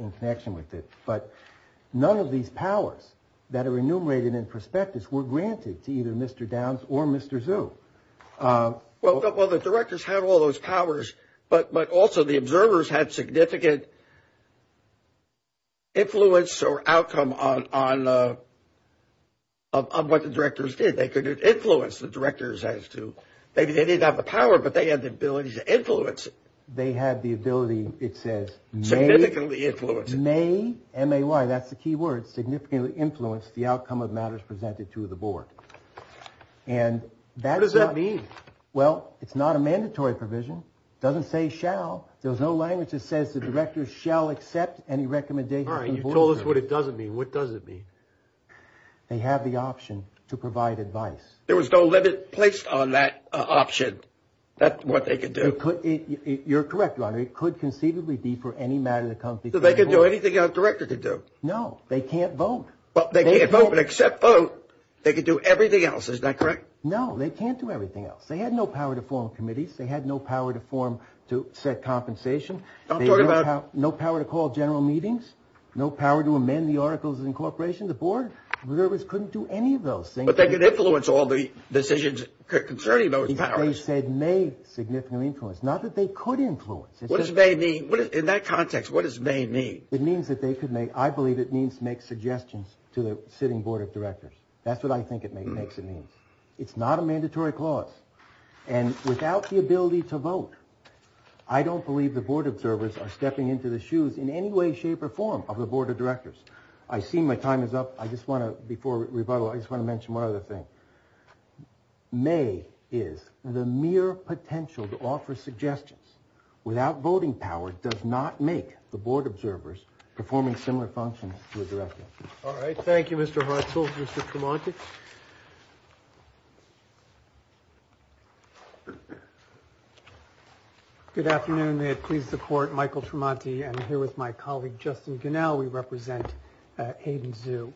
in connection with it, but none of these powers that are enumerated in prospectus were granted to either Mr. Downs or Mr. Xu. Well, the directors had all those powers, but also the observers had significant influence or outcome on what the directors did. They could influence the directors as to, maybe they didn't have the power, but they had the ability to influence it. Significantly influence it. May, M-A-Y, that's the key word, significantly influence the outcome of matters presented to the board. What does that mean? Well, it's not a mandatory provision. It doesn't say shall. There's no language that says the directors shall accept any recommendations. All right, you told us what it doesn't mean. What does it mean? They have the option to provide advice. There was no limit placed on that option. That's what they could do. You're correct, Ron. It could conceivably be for any matter that comes before the board. So they could do anything a director could do. No, they can't vote. Well, they can't vote, but except vote, they could do everything else. Is that correct? No, they can't do everything else. They had no power to form committees. They had no power to form, to set compensation. No power to call general meetings. No power to amend the articles of incorporation. The board, the observers couldn't do any of those things. But they could influence all the decisions concerning those powers. They said may significantly influence, not that they could influence. What does may mean? In that context, what does may mean? It means that they could make, I believe it means to make suggestions to the sitting board of directors. That's what I think it makes it mean. It's not a mandatory clause. And without the ability to vote, I don't believe the board observers are stepping into the shoes in any way, shape or form of the board of directors. I see my time is up. I just want to, before rebuttal, I just want to mention one other thing. May is the mere potential to offer suggestions. Without voting power does not make the board observers performing similar functions to a director. All right. Thank you, Mr. Hartzell. Mr. Tremonti. Good afternoon. May it please the court, Michael Tremonti. I'm here with my colleague, Justin Gunnell. We represent Hayden Zoo.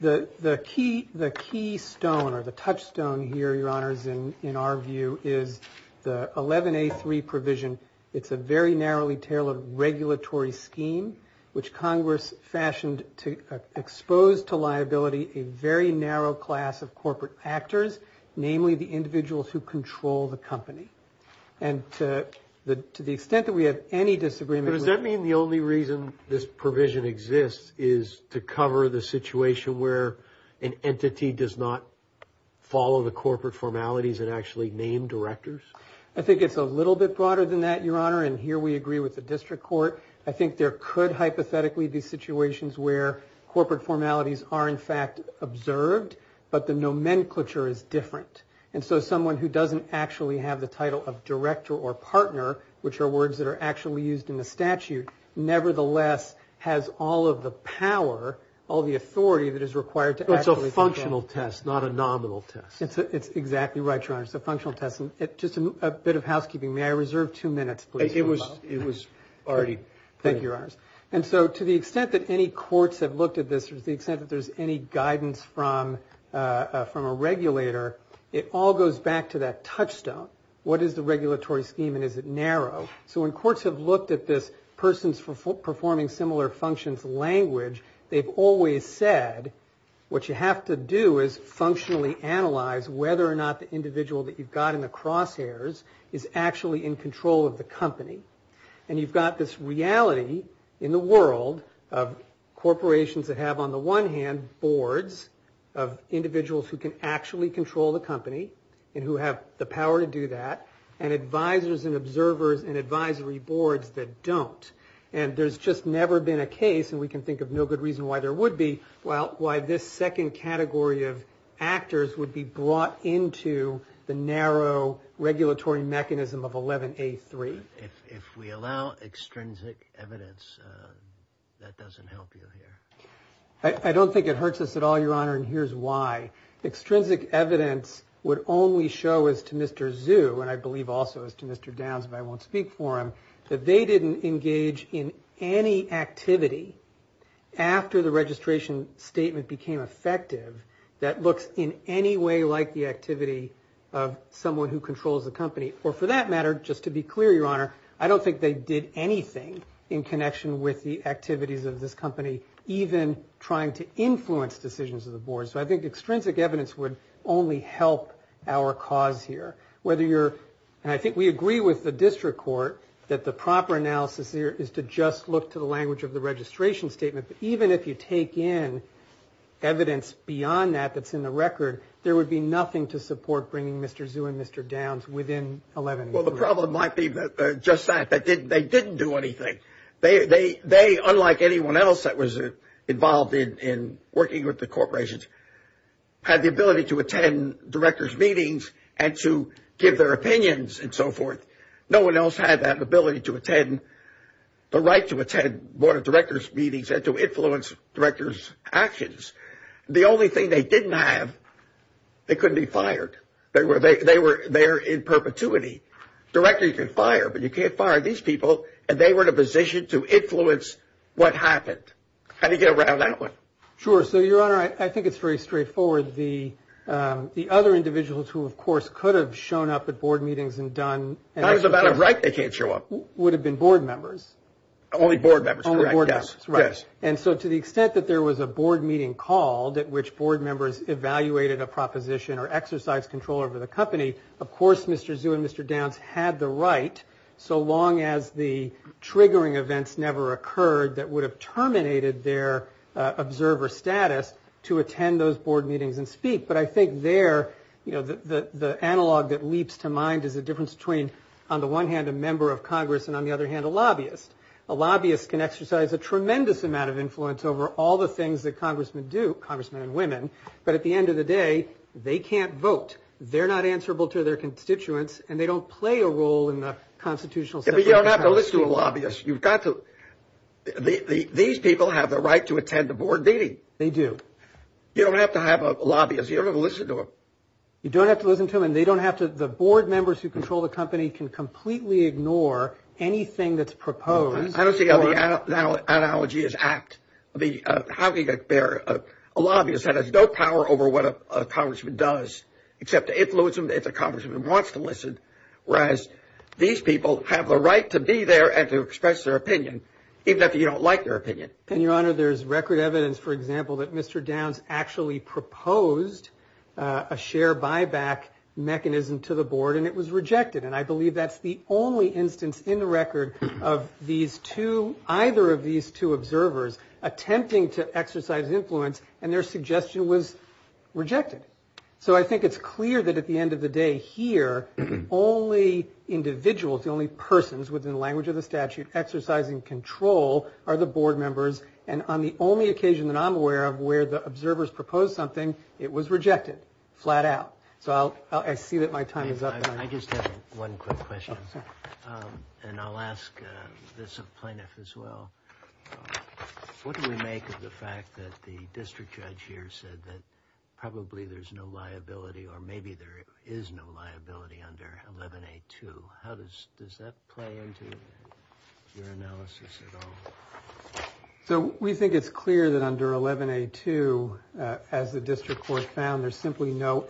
The key stone or the touchstone here, Your Honors, in our view is the 11A3 provision. It's a very narrowly tailored regulatory scheme, which Congress fashioned to expose to liability a very narrow class of corporate actors, namely the individuals who control the company. And to the extent that we have any disagreement Does that mean the only reason this provision exists is to cover the situation where an entity does not follow the corporate formalities and actually name directors? I think it's a little bit broader than that, Your Honor. And here we agree with the district court. I think there could hypothetically be situations where corporate formalities are in fact observed, but the nomenclature is different. And so someone who doesn't actually have the title of director or nevertheless has all of the power, all the authority that is required. It's a functional test, not a nominal test. It's exactly right, Your Honor. It's a functional test. Just a bit of housekeeping. May I reserve two minutes, please? It was already. Thank you, Your Honors. And so to the extent that any courts have looked at this, to the extent that there's any guidance from a regulator, it all goes back to that touchstone. What is the regulatory scheme and is it narrow? So when courts have looked at this person's performing similar functions language, they've always said what you have to do is functionally analyze whether or not the individual that you've got in the crosshairs is actually in control of the company. And you've got this reality in the world of corporations that have on the one hand boards of individuals who can actually control the company and who have the power to do that and advisors and observers and advisory boards that don't. And there's just never been a case, and we can think of no good reason why there would be, well, why this second category of actors would be brought into the narrow regulatory mechanism of 11A3. If we allow extrinsic evidence, that doesn't help you here. I don't think it hurts us at all, Your Honor, and here's why. Extrinsic evidence would only show as to Mr. Zhu, and I believe also as to Mr. Downs, but I won't speak for him, that they didn't engage in any activity after the registration statement became effective that looks in any way like the activity of someone who controls the company. Or for that matter, just to be clear, Your Honor, I don't think they did anything in connection with the activities of this company, even trying to influence decisions of the board. So I think extrinsic evidence would only help our cause here. Whether you're, and I think we agree with the district court, that the proper analysis here is to just look to the language of the registration statement. But even if you take in evidence beyond that that's in the record, there would be nothing to support bringing Mr. Zhu and Mr. Downs within 11A3. Well, the problem might be just that, that they didn't do anything. They, unlike anyone else that was involved in working with the corporations, had the ability to attend directors' meetings and to give their opinions and so forth. No one else had that ability to attend, the right to attend board of directors' meetings and to they couldn't be fired. They were there in perpetuity. Directors you can fire, but you can't fire these people. And they were in a position to influence what happened. How do you get around that one? Sure. So, Your Honor, I think it's very straightforward. The other individuals who, of course, could have shown up at board meetings and done... Not as a matter of right they can't show up. Would have been board members. Only board members, correct. Only board members, right. And so to the extent that there was a proposition or exercise control over the company, of course, Mr. Zhu and Mr. Downs had the right, so long as the triggering events never occurred, that would have terminated their observer status to attend those board meetings and speak. But I think there, you know, the analog that leaps to mind is the difference between, on the one hand, a member of Congress and, on the other hand, a lobbyist. A lobbyist can exercise a tremendous amount of influence over all the things that Congressmen and women, but at the end of the day, they can't vote. They're not answerable to their constituents, and they don't play a role in the constitutional... But you don't have to listen to a lobbyist. You've got to... These people have the right to attend the board meeting. They do. You don't have to have a lobbyist. You don't have to listen to them. You don't have to listen to them, and they don't have to... The board members who control the company can completely ignore anything that's proposed. I don't see how the analogy is apt. I mean, how can you bear a lobbyist that has no power over what a congressman does, except to influence him if the congressman wants to listen, whereas these people have the right to be there and to express their opinion, even if you don't like their opinion? And, Your Honor, there's record evidence, for example, that Mr. Downs actually proposed a share buyback mechanism to the board, and it was rejected. And I believe that's the either of these two observers attempting to exercise influence, and their suggestion was rejected. So I think it's clear that at the end of the day here, only individuals, only persons within the language of the statute exercising control are the board members, and on the only occasion that I'm aware of where the observers proposed something, it was rejected flat out. So I see that my time is up. I just have one quick question, and I'll ask this plaintiff as well. What do we make of the fact that the district judge here said that probably there's no liability, or maybe there is no liability under 11A2? How does that play into your analysis at all? So we think it's clear that under 11A2, as the district court found, there's simply no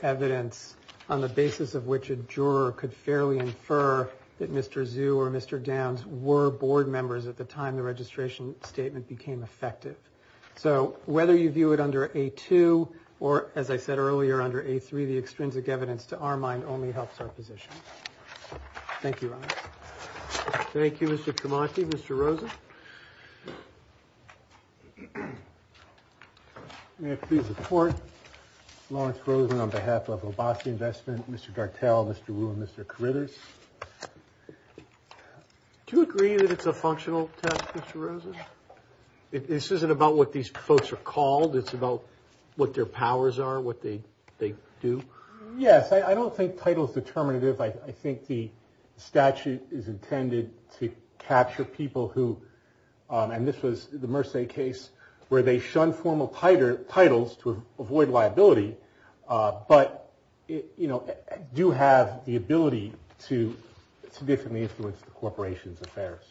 basis of which a juror could fairly infer that Mr. Zhu or Mr. Downs were board members at the time the registration statement became effective. So whether you view it under A2 or, as I said earlier, under A3, the extrinsic evidence to our mind only helps our position. Thank you, Your Honor. Thank you, Mr. Cromartie. Mr. Rosen? May I please report? Lawrence Rosen on behalf of Obasi Investment. Mr. Gartell, Mr. Wu, and Mr. Carruthers. Do you agree that it's a functional test, Mr. Rosen? This isn't about what these folks are called. It's about what their powers are, what they do. Yes, I don't think title is determinative. I think the statute is intended to capture people who, and this was the Merce case, where they shun formal titles to avoid liability, but do have the ability to significantly influence the corporation's affairs.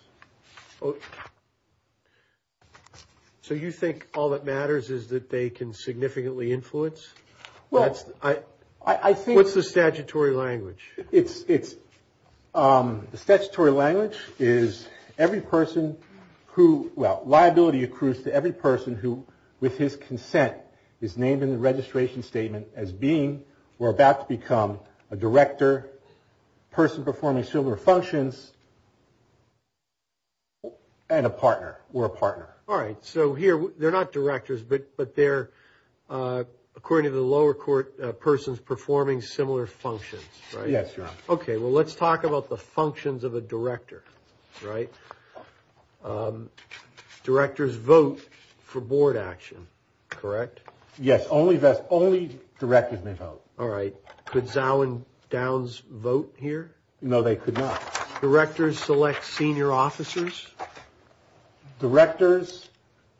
So you think all that matters is that they can significantly influence? Well, I think... What's the statutory language? It's... The statutory language is every person who, well, liability accrues to every person who, with his consent, is named in the registration statement as being, or about to become, a director, person performing similar functions, and a partner, or a partner. All right. So here, they're not directors, but they're, according to the lower court, persons performing similar functions, right? Yes, Your Honor. Okay, well, let's talk about the functions of a director, right? Directors vote for board action, correct? Yes, only directors may vote. All right. Could Zao and Downs vote here? No, they could not. Directors select senior officers? Directors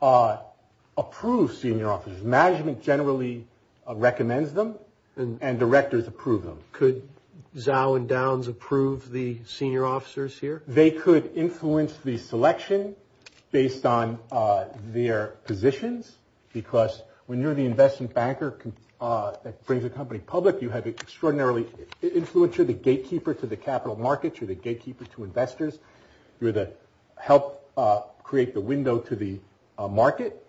approve senior officers. Management generally recommends them, and directors approve them. Could Zao and Downs approve the senior officers here? They could influence the selection based on their positions, because when you're the investment banker that brings a company public, you have extraordinarily influence. You're the gatekeeper to the capital markets. You're the gatekeeper to investors. You're the help create the window to the market,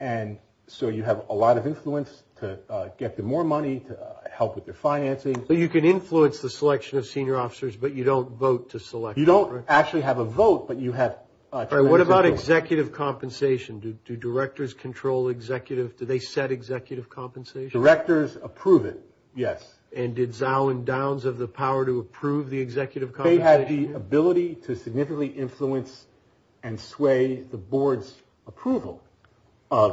and so you have a lot of influence to get them more money, to help with their financing. But you can influence the selection of senior officers, but you don't vote to select them, right? You don't actually have a vote, but you have... What about executive compensation? Do directors control executive... Do they set executive compensation? Directors approve it, yes. And did Zao and Downs have the power to approve the executive compensation? They had the ability to significantly influence and sway the board's approval of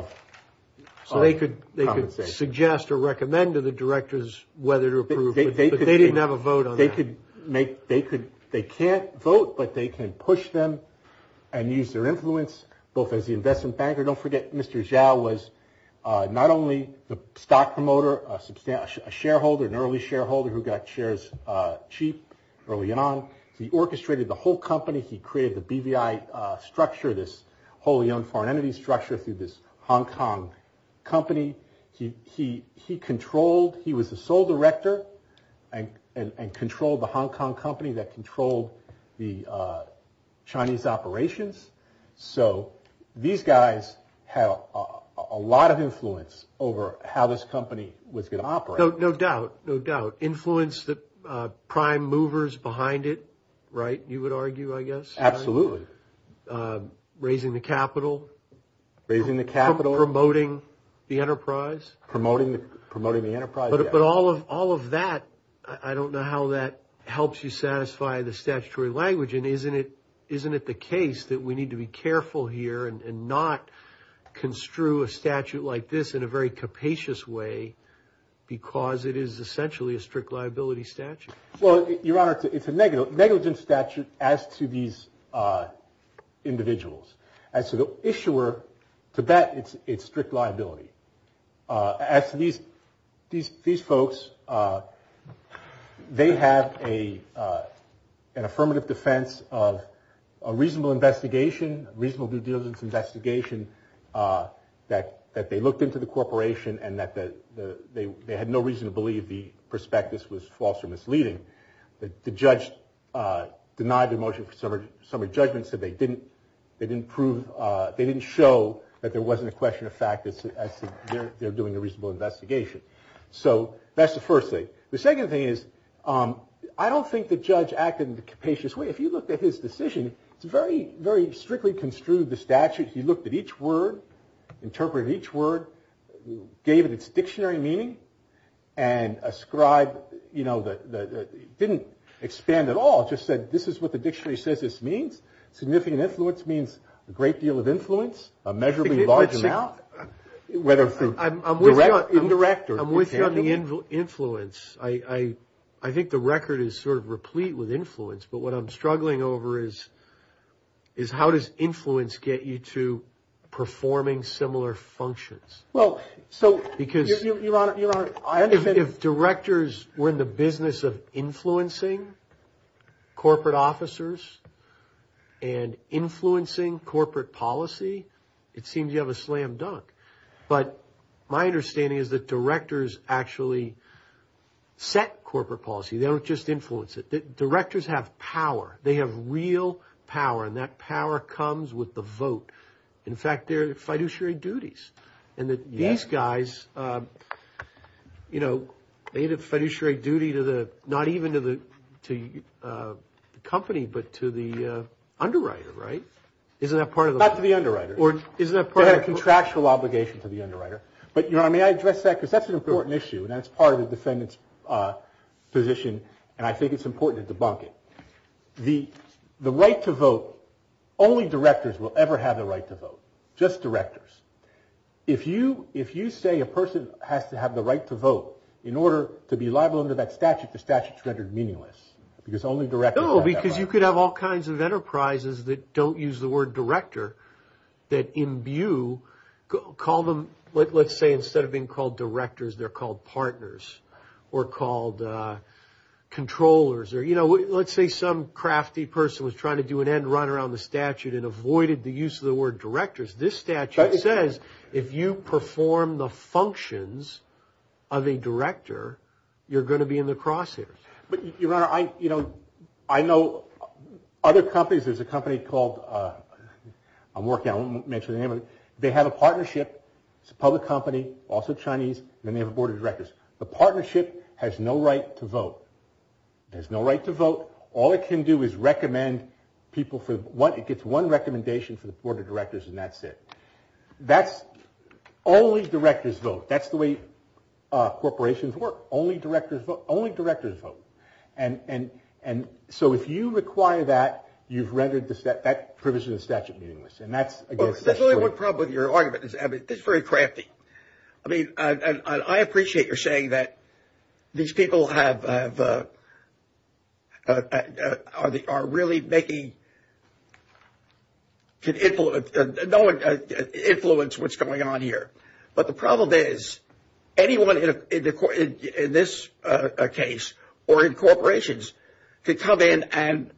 compensation. So they could suggest or recommend to the directors whether to approve, but they didn't have a vote on that. They could make... They can't vote, but they can push them and use their influence, both as the investment banker. Don't forget Mr. Zao was not only the stock promoter, a shareholder, an early shareholder who got shares cheap early on. He orchestrated the whole company. He created the BVI structure, this wholly owned foreign entity structure through this Hong Kong company. He controlled... He was the sole director and controlled the Hong Kong company that controlled the Chinese operations. So these guys have a lot of influence over how this company was going to operate. No doubt, no doubt. Influence the prime movers behind it, right? You would argue, I guess. Absolutely. Raising the capital. Raising the capital. Promoting the enterprise. Promoting the enterprise, yeah. But all of that, I don't know how that helps you satisfy the statutory language. And isn't it the case that we need to be careful here and not construe a statute like this in a very capacious way because it is essentially a strict liability statute? Well, Your Honor, it's a negligent statute as to these individuals. As to the issuer, to that, it's strict liability. As to these folks, they have an affirmative defense of a reasonable investigation, reasonable due diligence investigation that they looked into the corporation and that they had no reason to believe the prospectus was false or misleading. The judge denied the motion for summary judgment, so they didn't prove, they didn't show that there wasn't a question of fact that they're doing a reasonable investigation. So that's the first thing. The second thing is, I don't think the judge acted in a capacious way. If you looked at his decision, it's very, very strictly construed, the statute. He looked at each word, interpreted each word, gave it its dictionary meaning and ascribed, you know, that it didn't expand at all, just said, this is what the dictionary says this means. Significant influence means a great deal of influence, a measurably large amount, whether it's direct or intangible. I'm with you on the influence. I think the record is sort of replete with influence, but what I'm struggling over is how does influence get you to performing similar functions? Well, so, Your Honor, I understand. If directors were in the business of influencing corporate officers, and influencing corporate policy, it seems you have a slam dunk. But my understanding is that directors actually set corporate policy. They don't just influence it. Directors have power. They have real power, and that power comes with the vote. In fact, they're fiduciary duties. And these guys, you know, they had a fiduciary duty to the, not even to the company, but to the underwriter, right? Isn't that part of the- Not to the underwriter. Or isn't that part of- They had a contractual obligation to the underwriter. But, Your Honor, may I address that? Because that's an important issue, and that's part of the defendant's position, and I think it's important to debunk it. The right to vote, only directors will ever have the right to vote, just directors. If you say a person has to have the right to vote in order to be liable under that statute, the statute's rendered meaningless, because only directors have that right. No, because you could have all kinds of enterprises that don't use the word director that imbue, call them, let's say instead of being called directors, they're called partners, or called controllers, or, you know, let's say some crafty person was trying to do an end run around the statute and avoided the use of the word directors. You're going to be in the crosshairs. But, Your Honor, I, you know, I know other companies, there's a company called, I'm working on it, I won't mention the name of it, they have a partnership, it's a public company, also Chinese, and they have a board of directors. The partnership has no right to vote. It has no right to vote. All it can do is recommend people for what- It gets one recommendation from the board of directors, and that's it. That's only directors vote. That's the way corporations work. Only directors vote. And so, if you require that, you've rendered that privilege of the statute meaningless. And that's, I guess- There's only one problem with your argument. It's very crafty. I mean, I appreciate your saying that these people have, are really making, can influence, influence what's going on here. But the problem is, anyone in this case, or in corporations, can come in and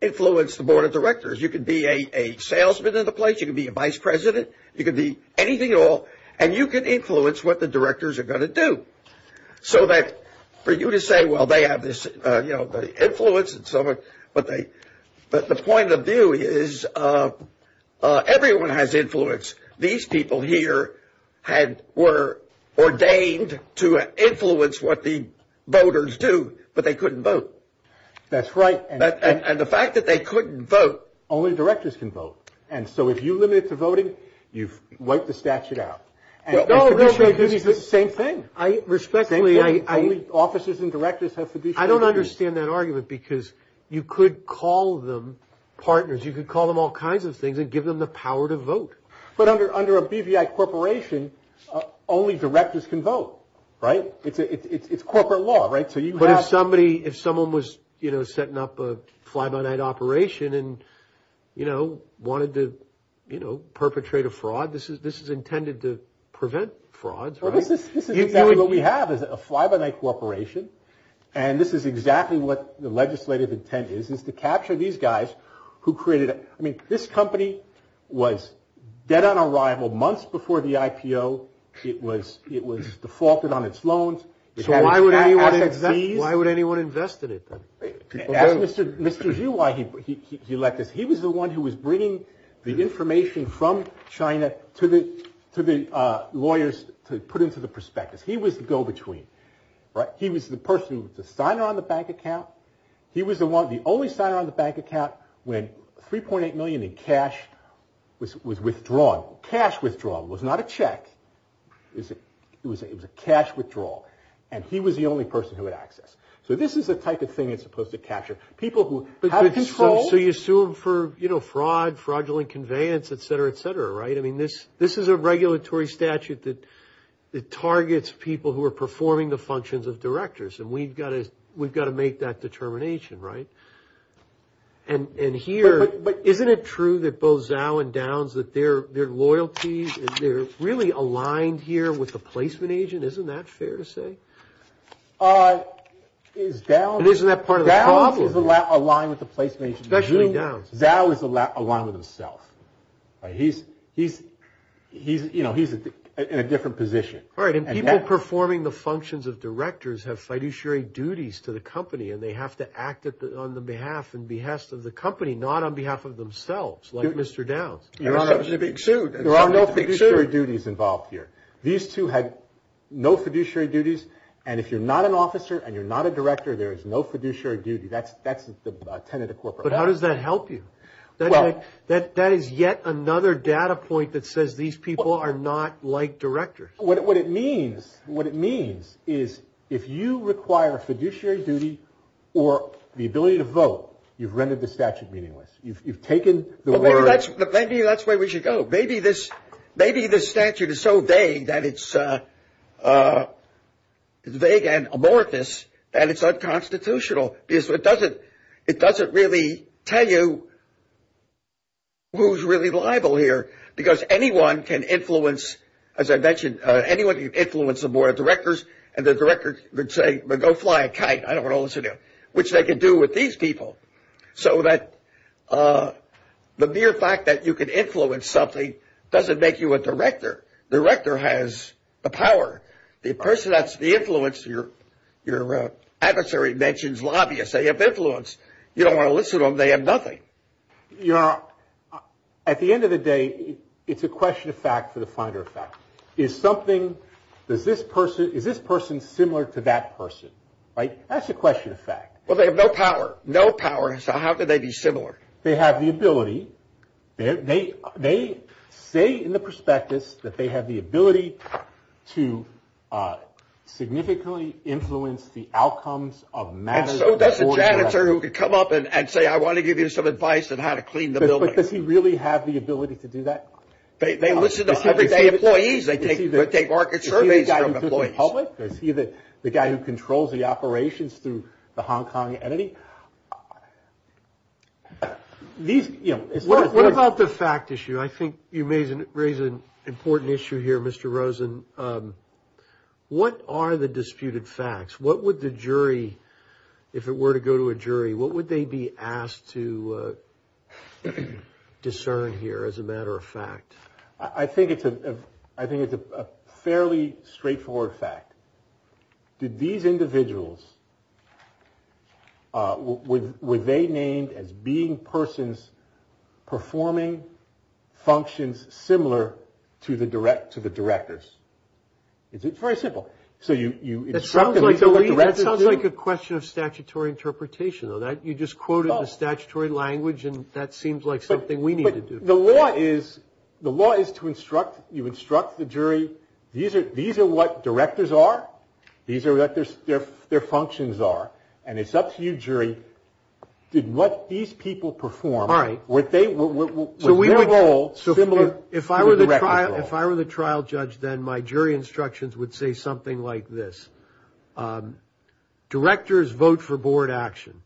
influence the board of directors. You can be a salesman in the place, you can be a vice president, you can be anything at all, and you can influence what the directors are going to do. So that, for you to say, well, they have this, you know, the influence and so forth, but the point of view is, everyone has influence. These people here had, were ordained to influence what the voters do, but they couldn't vote. That's right. And the fact that they couldn't vote- Only directors can vote. And so, if you limit it to voting, you've wiped the statute out. No, no, no, no, no. It's the same thing. I respectfully- Only offices and directors have fiduciary- I don't understand that argument, because you could call them partners. You could call them all kinds of things and give them the power to vote. But under a BVI corporation, only directors can vote, right? It's corporate law, right? So you have- But if somebody, if someone was, you know, setting up a fly-by-night operation and, you know, wanted to, you know, perpetrate a fraud, this is intended to prevent frauds, right? This is exactly what we have, is a fly-by-night corporation, and this is exactly what the legislative intent is, is to capture these guys who created- I mean, this company was dead on arrival months before the IPO. It was defaulted on its loans. So why would anyone- Why would anyone invest in it, then? Ask Mr. Xu why he let this. He was the one who was bringing the information from China to the lawyers to put into the prospectus. He was the go-between, right? He was the person with the signer on the bank account. He was the one, the only signer on the bank account when 3.8 million in cash was withdrawn. Cash withdrawal was not a check. It was a cash withdrawal, and he was the only person who had access. So this is the type of thing it's supposed to capture. People who have control- So you sue them for, you know, fraud, fraudulent conveyance, et cetera, et cetera, right? I mean, this is a regulatory statute that targets people who are performing the functions of directors, and we've got to make that determination, right? And here- But isn't it true that both Zhao and Downs, that their loyalties, they're really aligned here with the placement agent? Isn't that fair to say? Is Downs- Isn't that part of the problem? Downs is aligned with the placement agent, but Zhao is aligned with himself. He's, you know, he's in a different position. All right, and people performing the functions of directors have fiduciary duties to the company, and they have to act on the behalf and behest of the company, not on behalf of themselves, like Mr. Downs. Your Honor, there are no fiduciary duties involved here. These two had no fiduciary duties, and if you're not an officer and you're not a director, there is no fiduciary duty. That's the tenet of corporate law. But how does that help you? That is yet another data point that says these people are not like directors. What it means, what it means is if you require fiduciary duty or the ability to vote, you've rendered the statute meaningless. You've taken the word- Maybe that's where we should go. Maybe this statute is so vague that it's vague and amorphous that it's unconstitutional, because it doesn't really tell you who's really liable here, because anyone can influence, as I mentioned, anyone can influence the board of directors, and the directors would say, well, go fly a kite. I don't want to listen to you, which they can do with these people. So that the mere fact that you can influence something doesn't make you a director. The director has the power. The person that's the influence, your adversary mentions lobbyists. They have influence. You don't want to listen to them. They have nothing. You're, at the end of the day, it's a question of fact for the finder of fact. Is something, does this person, is this person similar to that person, right? That's a question of fact. Well, they have no power. No power, so how could they be similar? They have the ability. They say in the prospectus that they have the ability to significantly influence the outcomes of matters- And so that's a janitor who could come up and say, I want to give you some advice on how to clean the building. But does he really have the ability to do that? They listen to everyday employees. They take market surveys from employees. Is he the guy who controls the operations through the Hong Kong entity? What about the fact issue? I think you may raise an important issue here, Mr. Rosen. What are the disputed facts? What would the jury, if it were to go to a jury, what would they be asked to discern here as a matter of fact? I think it's a fairly straightforward fact. Did these individuals, were they named as being persons performing functions similar to the directors? It's very simple. So you- It sounds like a question of statutory interpretation, you just quoted the statutory language and that seems like something we need to do. But the law is to instruct, you instruct the jury, these are what directors are, these are what their functions are, and it's up to you, jury, did what these people perform- All right. Were their role similar to the director's role? If I were the trial judge, then my jury instructions would say something like this. Directors vote for board action.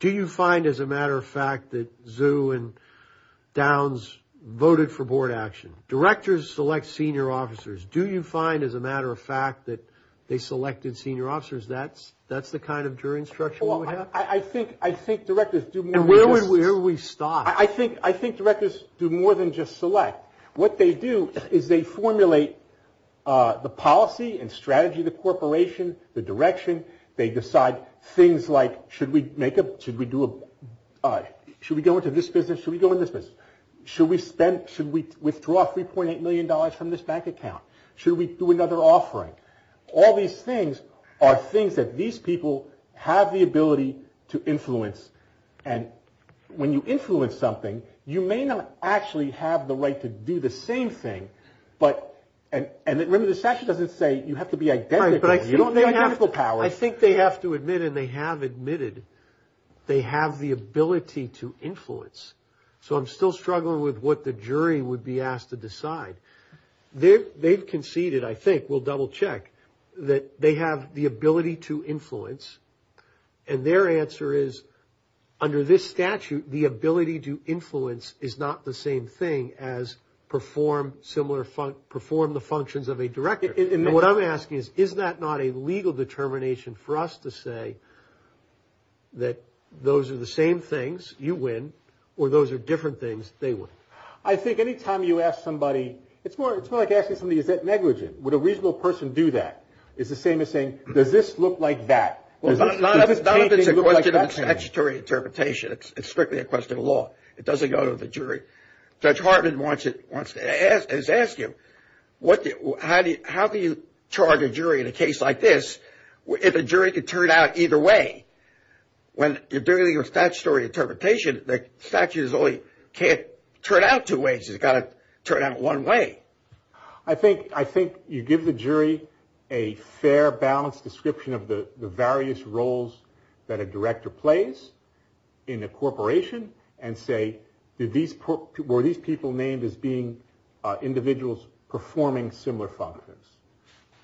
Do you find, as a matter of fact, that Zhu and Downs voted for board action? Directors select senior officers. Do you find, as a matter of fact, that they selected senior officers? That's the kind of jury instruction that would happen? I think directors do more than just- And where would we stop? I think directors do more than just select. What they do is they formulate the policy and strategy of the corporation, the direction. They decide things like, should we make a- Should we do a- Should we go into this business? Should we go in this business? Should we spend- Should we withdraw $3.8 million from this bank account? Should we do another offering? All these things are things that these people have the ability to influence. And when you influence something, you may not actually have the right to do the same thing. And remember, the statute doesn't say you have to be identical. You don't have the identical power. I think they have to admit, and they have admitted, they have the ability to influence. So I'm still struggling with what the jury would be asked to decide. They've conceded, I think, we'll double check, that they have the ability to influence. And their answer is, under this statute, the ability to influence is not the same thing as perform similar- perform the functions of a director. And what I'm asking is, is that not a legal determination for us to say that those are the same things, you win, or those are different things, they win? I think any time you ask somebody, it's more like asking somebody, is that negligent? Would a reasonable person do that? It's the same as saying, does this look like that? Not if it's a question of statutory interpretation. It's strictly a question of law. It doesn't go to the jury. Judge Hartman wants to ask you, how can you charge a jury in a case like this, if a jury could turn out either way? When you're dealing with statutory interpretation, the statute only can't turn out two ways. It's got to turn out one way. I think you give the jury a fair, balanced description of the various roles that a director plays in a corporation and say, were these people named as being individuals performing similar functions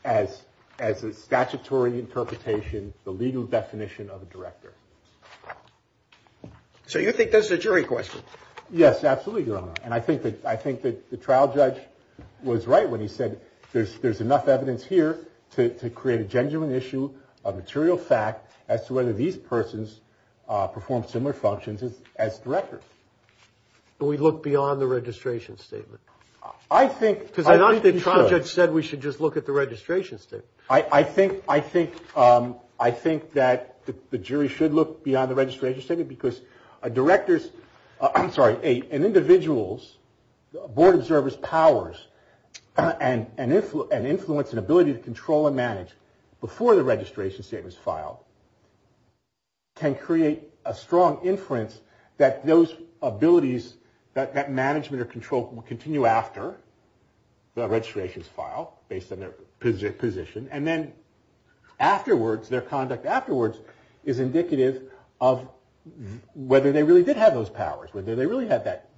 as a statutory interpretation, the legal definition of a director? So you think this is a jury question? Yes, absolutely, Your Honor. I think that the trial judge was right when he said there's enough evidence here to create a genuine issue, a material fact, as to whether these persons perform similar functions as directors. We look beyond the registration statement? I think... Because I don't think the trial judge said we should just look at the registration statement. I think that the jury should look beyond the registration statement because a director's... board observer's powers and influence and ability to control and manage before the registration statement is filed can create a strong inference that those abilities, that management or control will continue after the registration is filed based on their position and then afterwards, their conduct afterwards is indicative of whether they really did have those powers, whether they really had that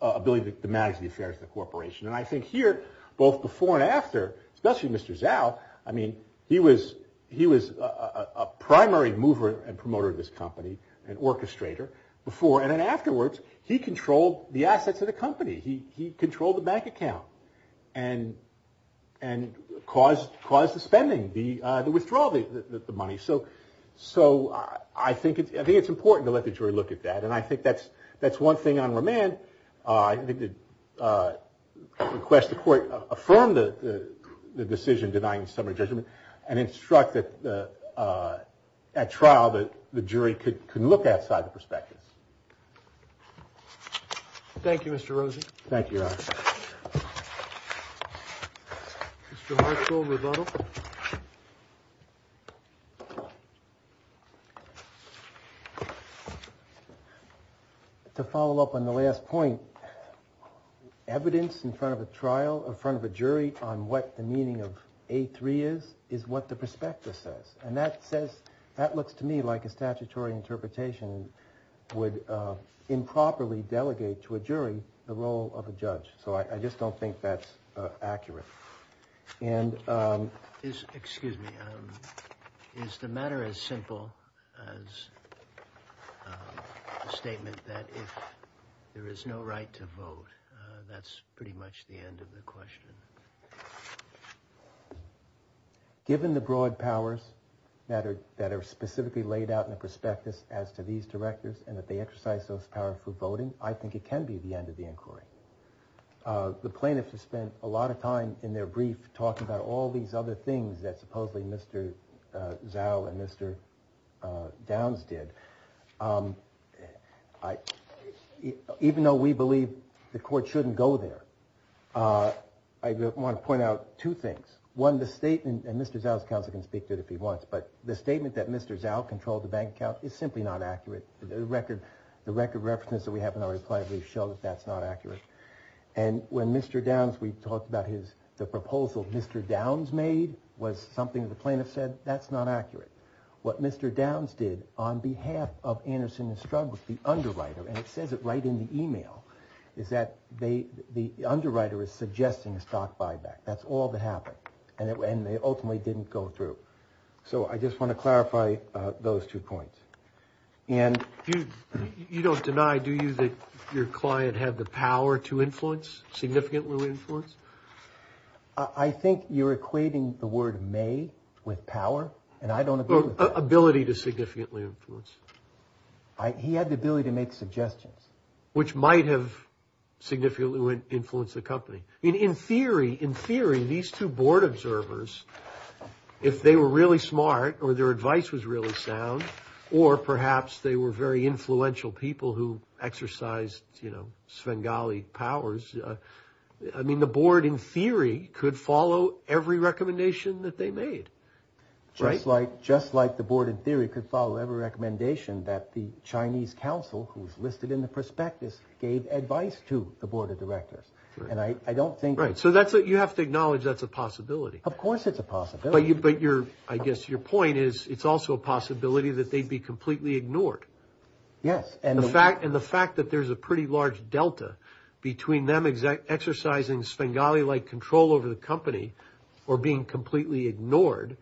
ability to manage the affairs of the corporation. And I think here, both before and after, especially Mr. Zhao, I mean, he was a primary mover and promoter of this company, an orchestrator before and then afterwards, he controlled the assets of the company. He controlled the bank account and caused the spending, the withdrawal of the money. So I think it's important to let the jury look at that and I think that's one thing on remand. I think to request the court affirm the decision denying the summary judgment and instruct at trial that the jury can look outside the perspective. Thank you, Mr. Rosen. Thank you, Your Honor. Mr. Marshall, rebuttal. To follow up on the last point, evidence in front of a trial, in front of a jury on what the meaning of A3 is, is what the prospectus says. And that says, that looks to me like a statutory interpretation would improperly delegate to a jury the role of a judge. So I just don't think that's accurate. And is, excuse me, is the matter as simple as a statement that if there is no right to vote, that's pretty much the end of the question. Given the broad powers that are specifically laid out in the prospectus as to these directors and that they exercise those power for voting, I think it can be the end of the inquiry. The plaintiffs have spent a lot of time in their brief talking about all these other things that supposedly Mr. Zao and Mr. Downs did. Even though we believe the court shouldn't go there, I want to point out two things. One, the statement, and Mr. Zao's counsel can speak to it if he wants, but the statement that Mr. Zao controlled the bank account is simply not accurate. The record represents that we have in our reply brief show that that's not accurate. And when Mr. Downs, we talked about his, the proposal Mr. Downs made was something the plaintiff said, that's not accurate. What Mr. Downs did on behalf of Anderson and Strug was the underwriter, and it says it right in the email, is that the underwriter is suggesting a stock buyback. That's all that happened. And they ultimately didn't go through. So I just want to clarify those two points. And you don't deny, do you, that your client had the power to influence, significantly influence? I think you're equating the word may with power, and I don't agree with that. Ability to significantly influence. He had the ability to make suggestions. Which might have significantly influenced the company. I mean, in theory, in theory, these two board observers, if they were really smart or their advice was really sound, or perhaps they were very influential people who exercised, you know, Svengali powers. I mean, the board in theory could follow every recommendation that they made. Just like, just like the board in theory could follow every recommendation that the Chinese council, who's listed in the prospectus, gave advice to the board of directors. And I don't think. So that's what you have to acknowledge. That's a possibility. Of course, it's a possibility. But your, I guess your point is, it's also a possibility that they'd be completely ignored. Yes. And the fact, and the fact that there's a pretty large delta between them exercising Svengali-like control over the company or being completely ignored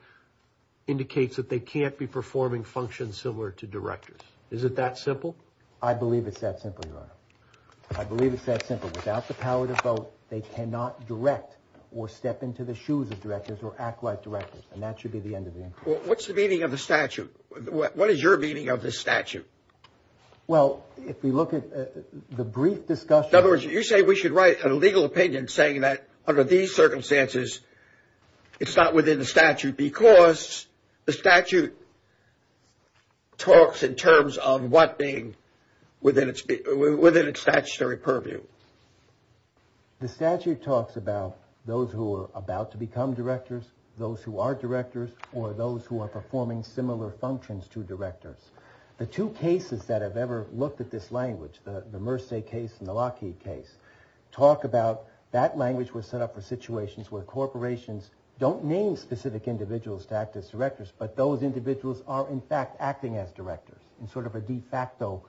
indicates that they can't be performing functions similar to directors. Is it that simple? I believe it's that simple, Your Honor. I believe it's that simple. Without the power to vote, they cannot direct or step into the shoes of directors or act like directors, and that should be the end of the inquiry. What's the meaning of the statute? What is your meaning of this statute? Well, if we look at the brief discussion. In other words, you say we should write a legal opinion saying that under these circumstances, it's not within the statute because the statute talks in terms of what being within its, within its statutory purview. The statute talks about those who are about to become directors, those who are directors, or those who are performing similar functions to directors. The two cases that I've ever looked at this language, the Mersey case and the Lockheed case, talk about that language was set up for situations where corporations don't name specific individuals to act as directors, but those individuals are in fact acting as directors in sort of a de facto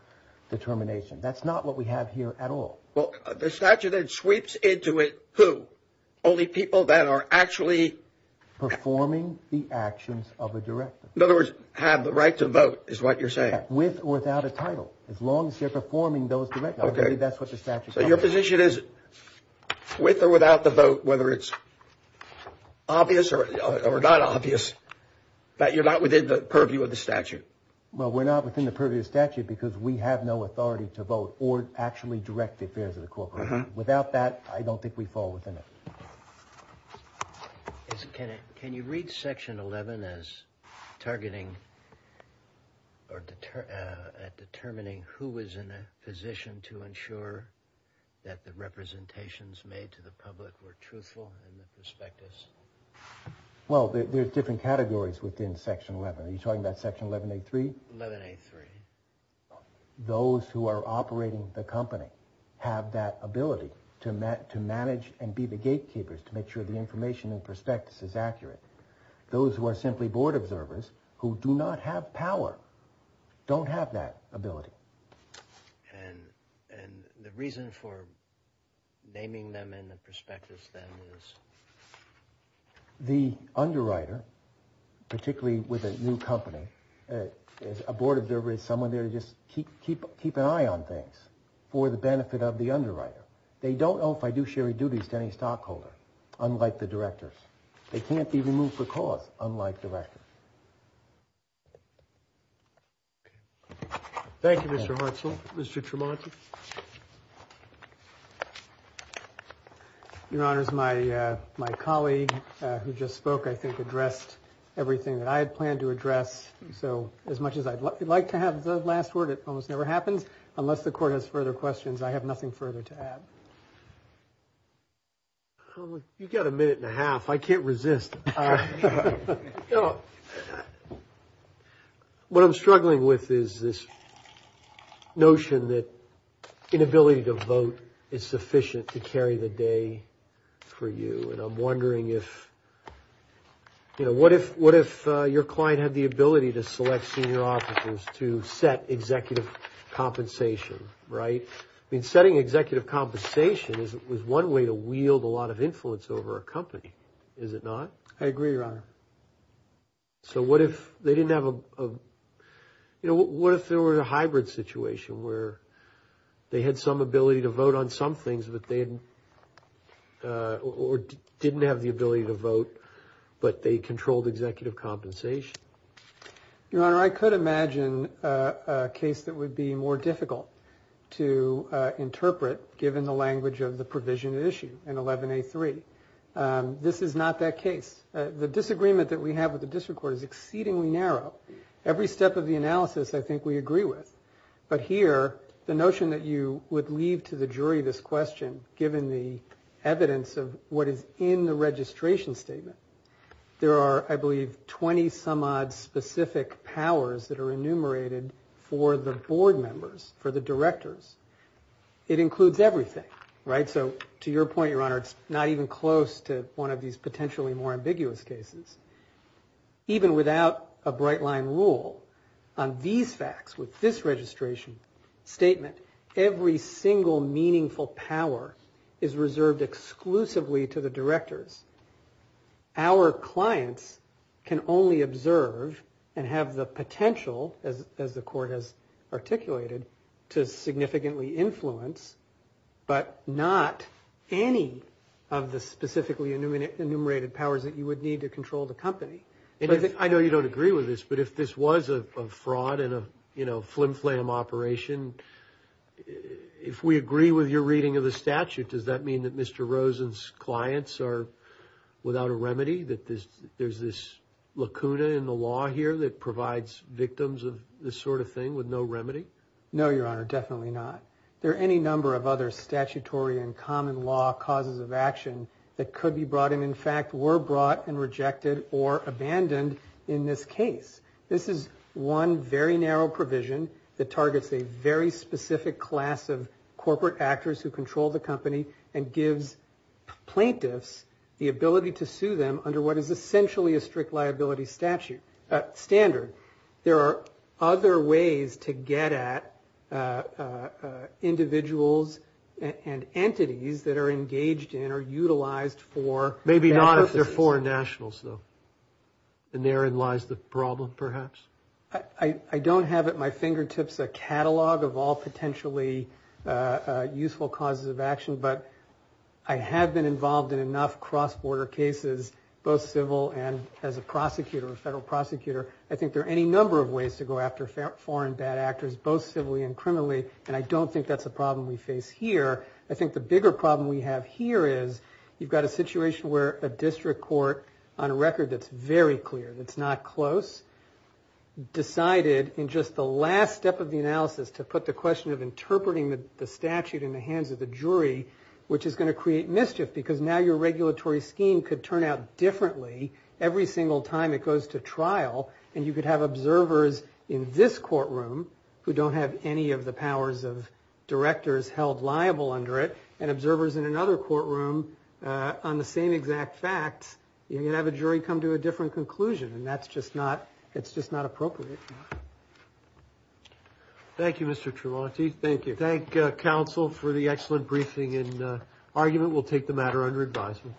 determination. That's not what we have here at all. Well, the statute then sweeps into it who? Only people that are actually performing the actions of a director. In other words, have the right to vote, is what you're saying? With or without a title, as long as they're performing those direct... Okay. That's what the statute... So your position is with or without the vote, whether it's obvious or not obvious, that you're not within the purview of the statute? Well, we're not within the purview of the statute because we have no authority to vote or actually direct the affairs of the corporation. Without that, I don't think we fall within it. Can you read section 11 as targeting or determining who was in a position to ensure that the representations made to the public were truthful in the prospectus? Well, there's different categories within section 11. Are you talking about section 1183? 1183. Those who are operating the company have that ability to manage and be the gatekeepers, to make sure the information in the prospectus is accurate. Those who are simply board observers, who do not have power, don't have that ability. And the reason for naming them in the prospectus then is? Well, the underwriter, particularly with a new company, a board observer is someone there to just keep an eye on things for the benefit of the underwriter. They don't know if I do sherry duties to any stockholder, unlike the directors. They can't be removed for cause, unlike directors. Thank you, Mr. Hutzel. Mr. Tremonti. Your Honor, my colleague who just spoke, I think, addressed everything that I had planned to address. So as much as I'd like to have the last word, it almost never happens. Unless the court has further questions, I have nothing further to add. You got a minute and a half. I can't resist. All right. What I'm struggling with is this notion that inability to vote is sufficient to carry the day for you. And I'm wondering if, you know, what if your client had the ability to select senior officers to set executive compensation, right? I mean, setting executive compensation is one way to wield a lot of influence over a company, is it not? I agree, Your Honor. So what if they didn't have a, you know, what if there were a hybrid situation where they had some ability to vote on some things that they hadn't, or didn't have the ability to vote, but they controlled executive compensation? Your Honor, I could imagine a case that would be more difficult to interpret, given the language of the provision at issue in 11a3. This is not that case. The disagreement that we have with the district court is exceedingly narrow. Every step of the analysis I think we agree with. But here, the notion that you would leave to the jury this question, given the evidence of what is in the registration statement, there are, I believe, 20-some-odd specific powers that are enumerated for the board members, for the directors. It includes everything, right? To your point, Your Honor, it's not even close to one of these potentially more ambiguous cases. Even without a bright-line rule on these facts, with this registration statement, every single meaningful power is reserved exclusively to the directors. Our clients can only observe and have the potential, as the court has articulated, to significantly influence, but not any of the specifically enumerated powers that you would need to control the company. I know you don't agree with this, but if this was a fraud and a flim-flam operation, if we agree with your reading of the statute, does that mean that Mr. Rosen's clients are without a remedy? That there's this lacuna in the law here that provides victims of this sort of thing with no Your Honor, definitely not. There are any number of other statutory and common law causes of action that could be brought, and in fact, were brought and rejected or abandoned in this case. This is one very narrow provision that targets a very specific class of corporate actors who control the company and gives plaintiffs the ability to sue them under what is essentially a strict liability statute, standard. There are other ways to get at individuals and entities that are engaged in or utilized for Maybe not if they're foreign nationals, though. And therein lies the problem, perhaps. I don't have at my fingertips a catalog of all potentially useful causes of action, but I have been involved in enough cross-border cases, both civil and as a prosecutor, a federal prosecutor. I think there are any number of ways to go after foreign bad actors, both civilly and criminally, and I don't think that's a problem we face here. I think the bigger problem we have here is you've got a situation where a district court on a record that's very clear, that's not close, decided in just the last step of the analysis to put the question of interpreting the statute in the hands of the jury, which is going to create mischief because now your regulatory scheme could turn out differently every single time it goes to trial, and you could have observers in this courtroom who don't have any of the powers of directors held liable under it, and observers in another courtroom on the same exact facts. You're going to have a jury come to a different conclusion, and that's just not, it's just not appropriate. Thank you, Mr. Tremonti. Thank you. Thank you, counsel, for the excellent briefing and argument. We'll take the matter under advisement.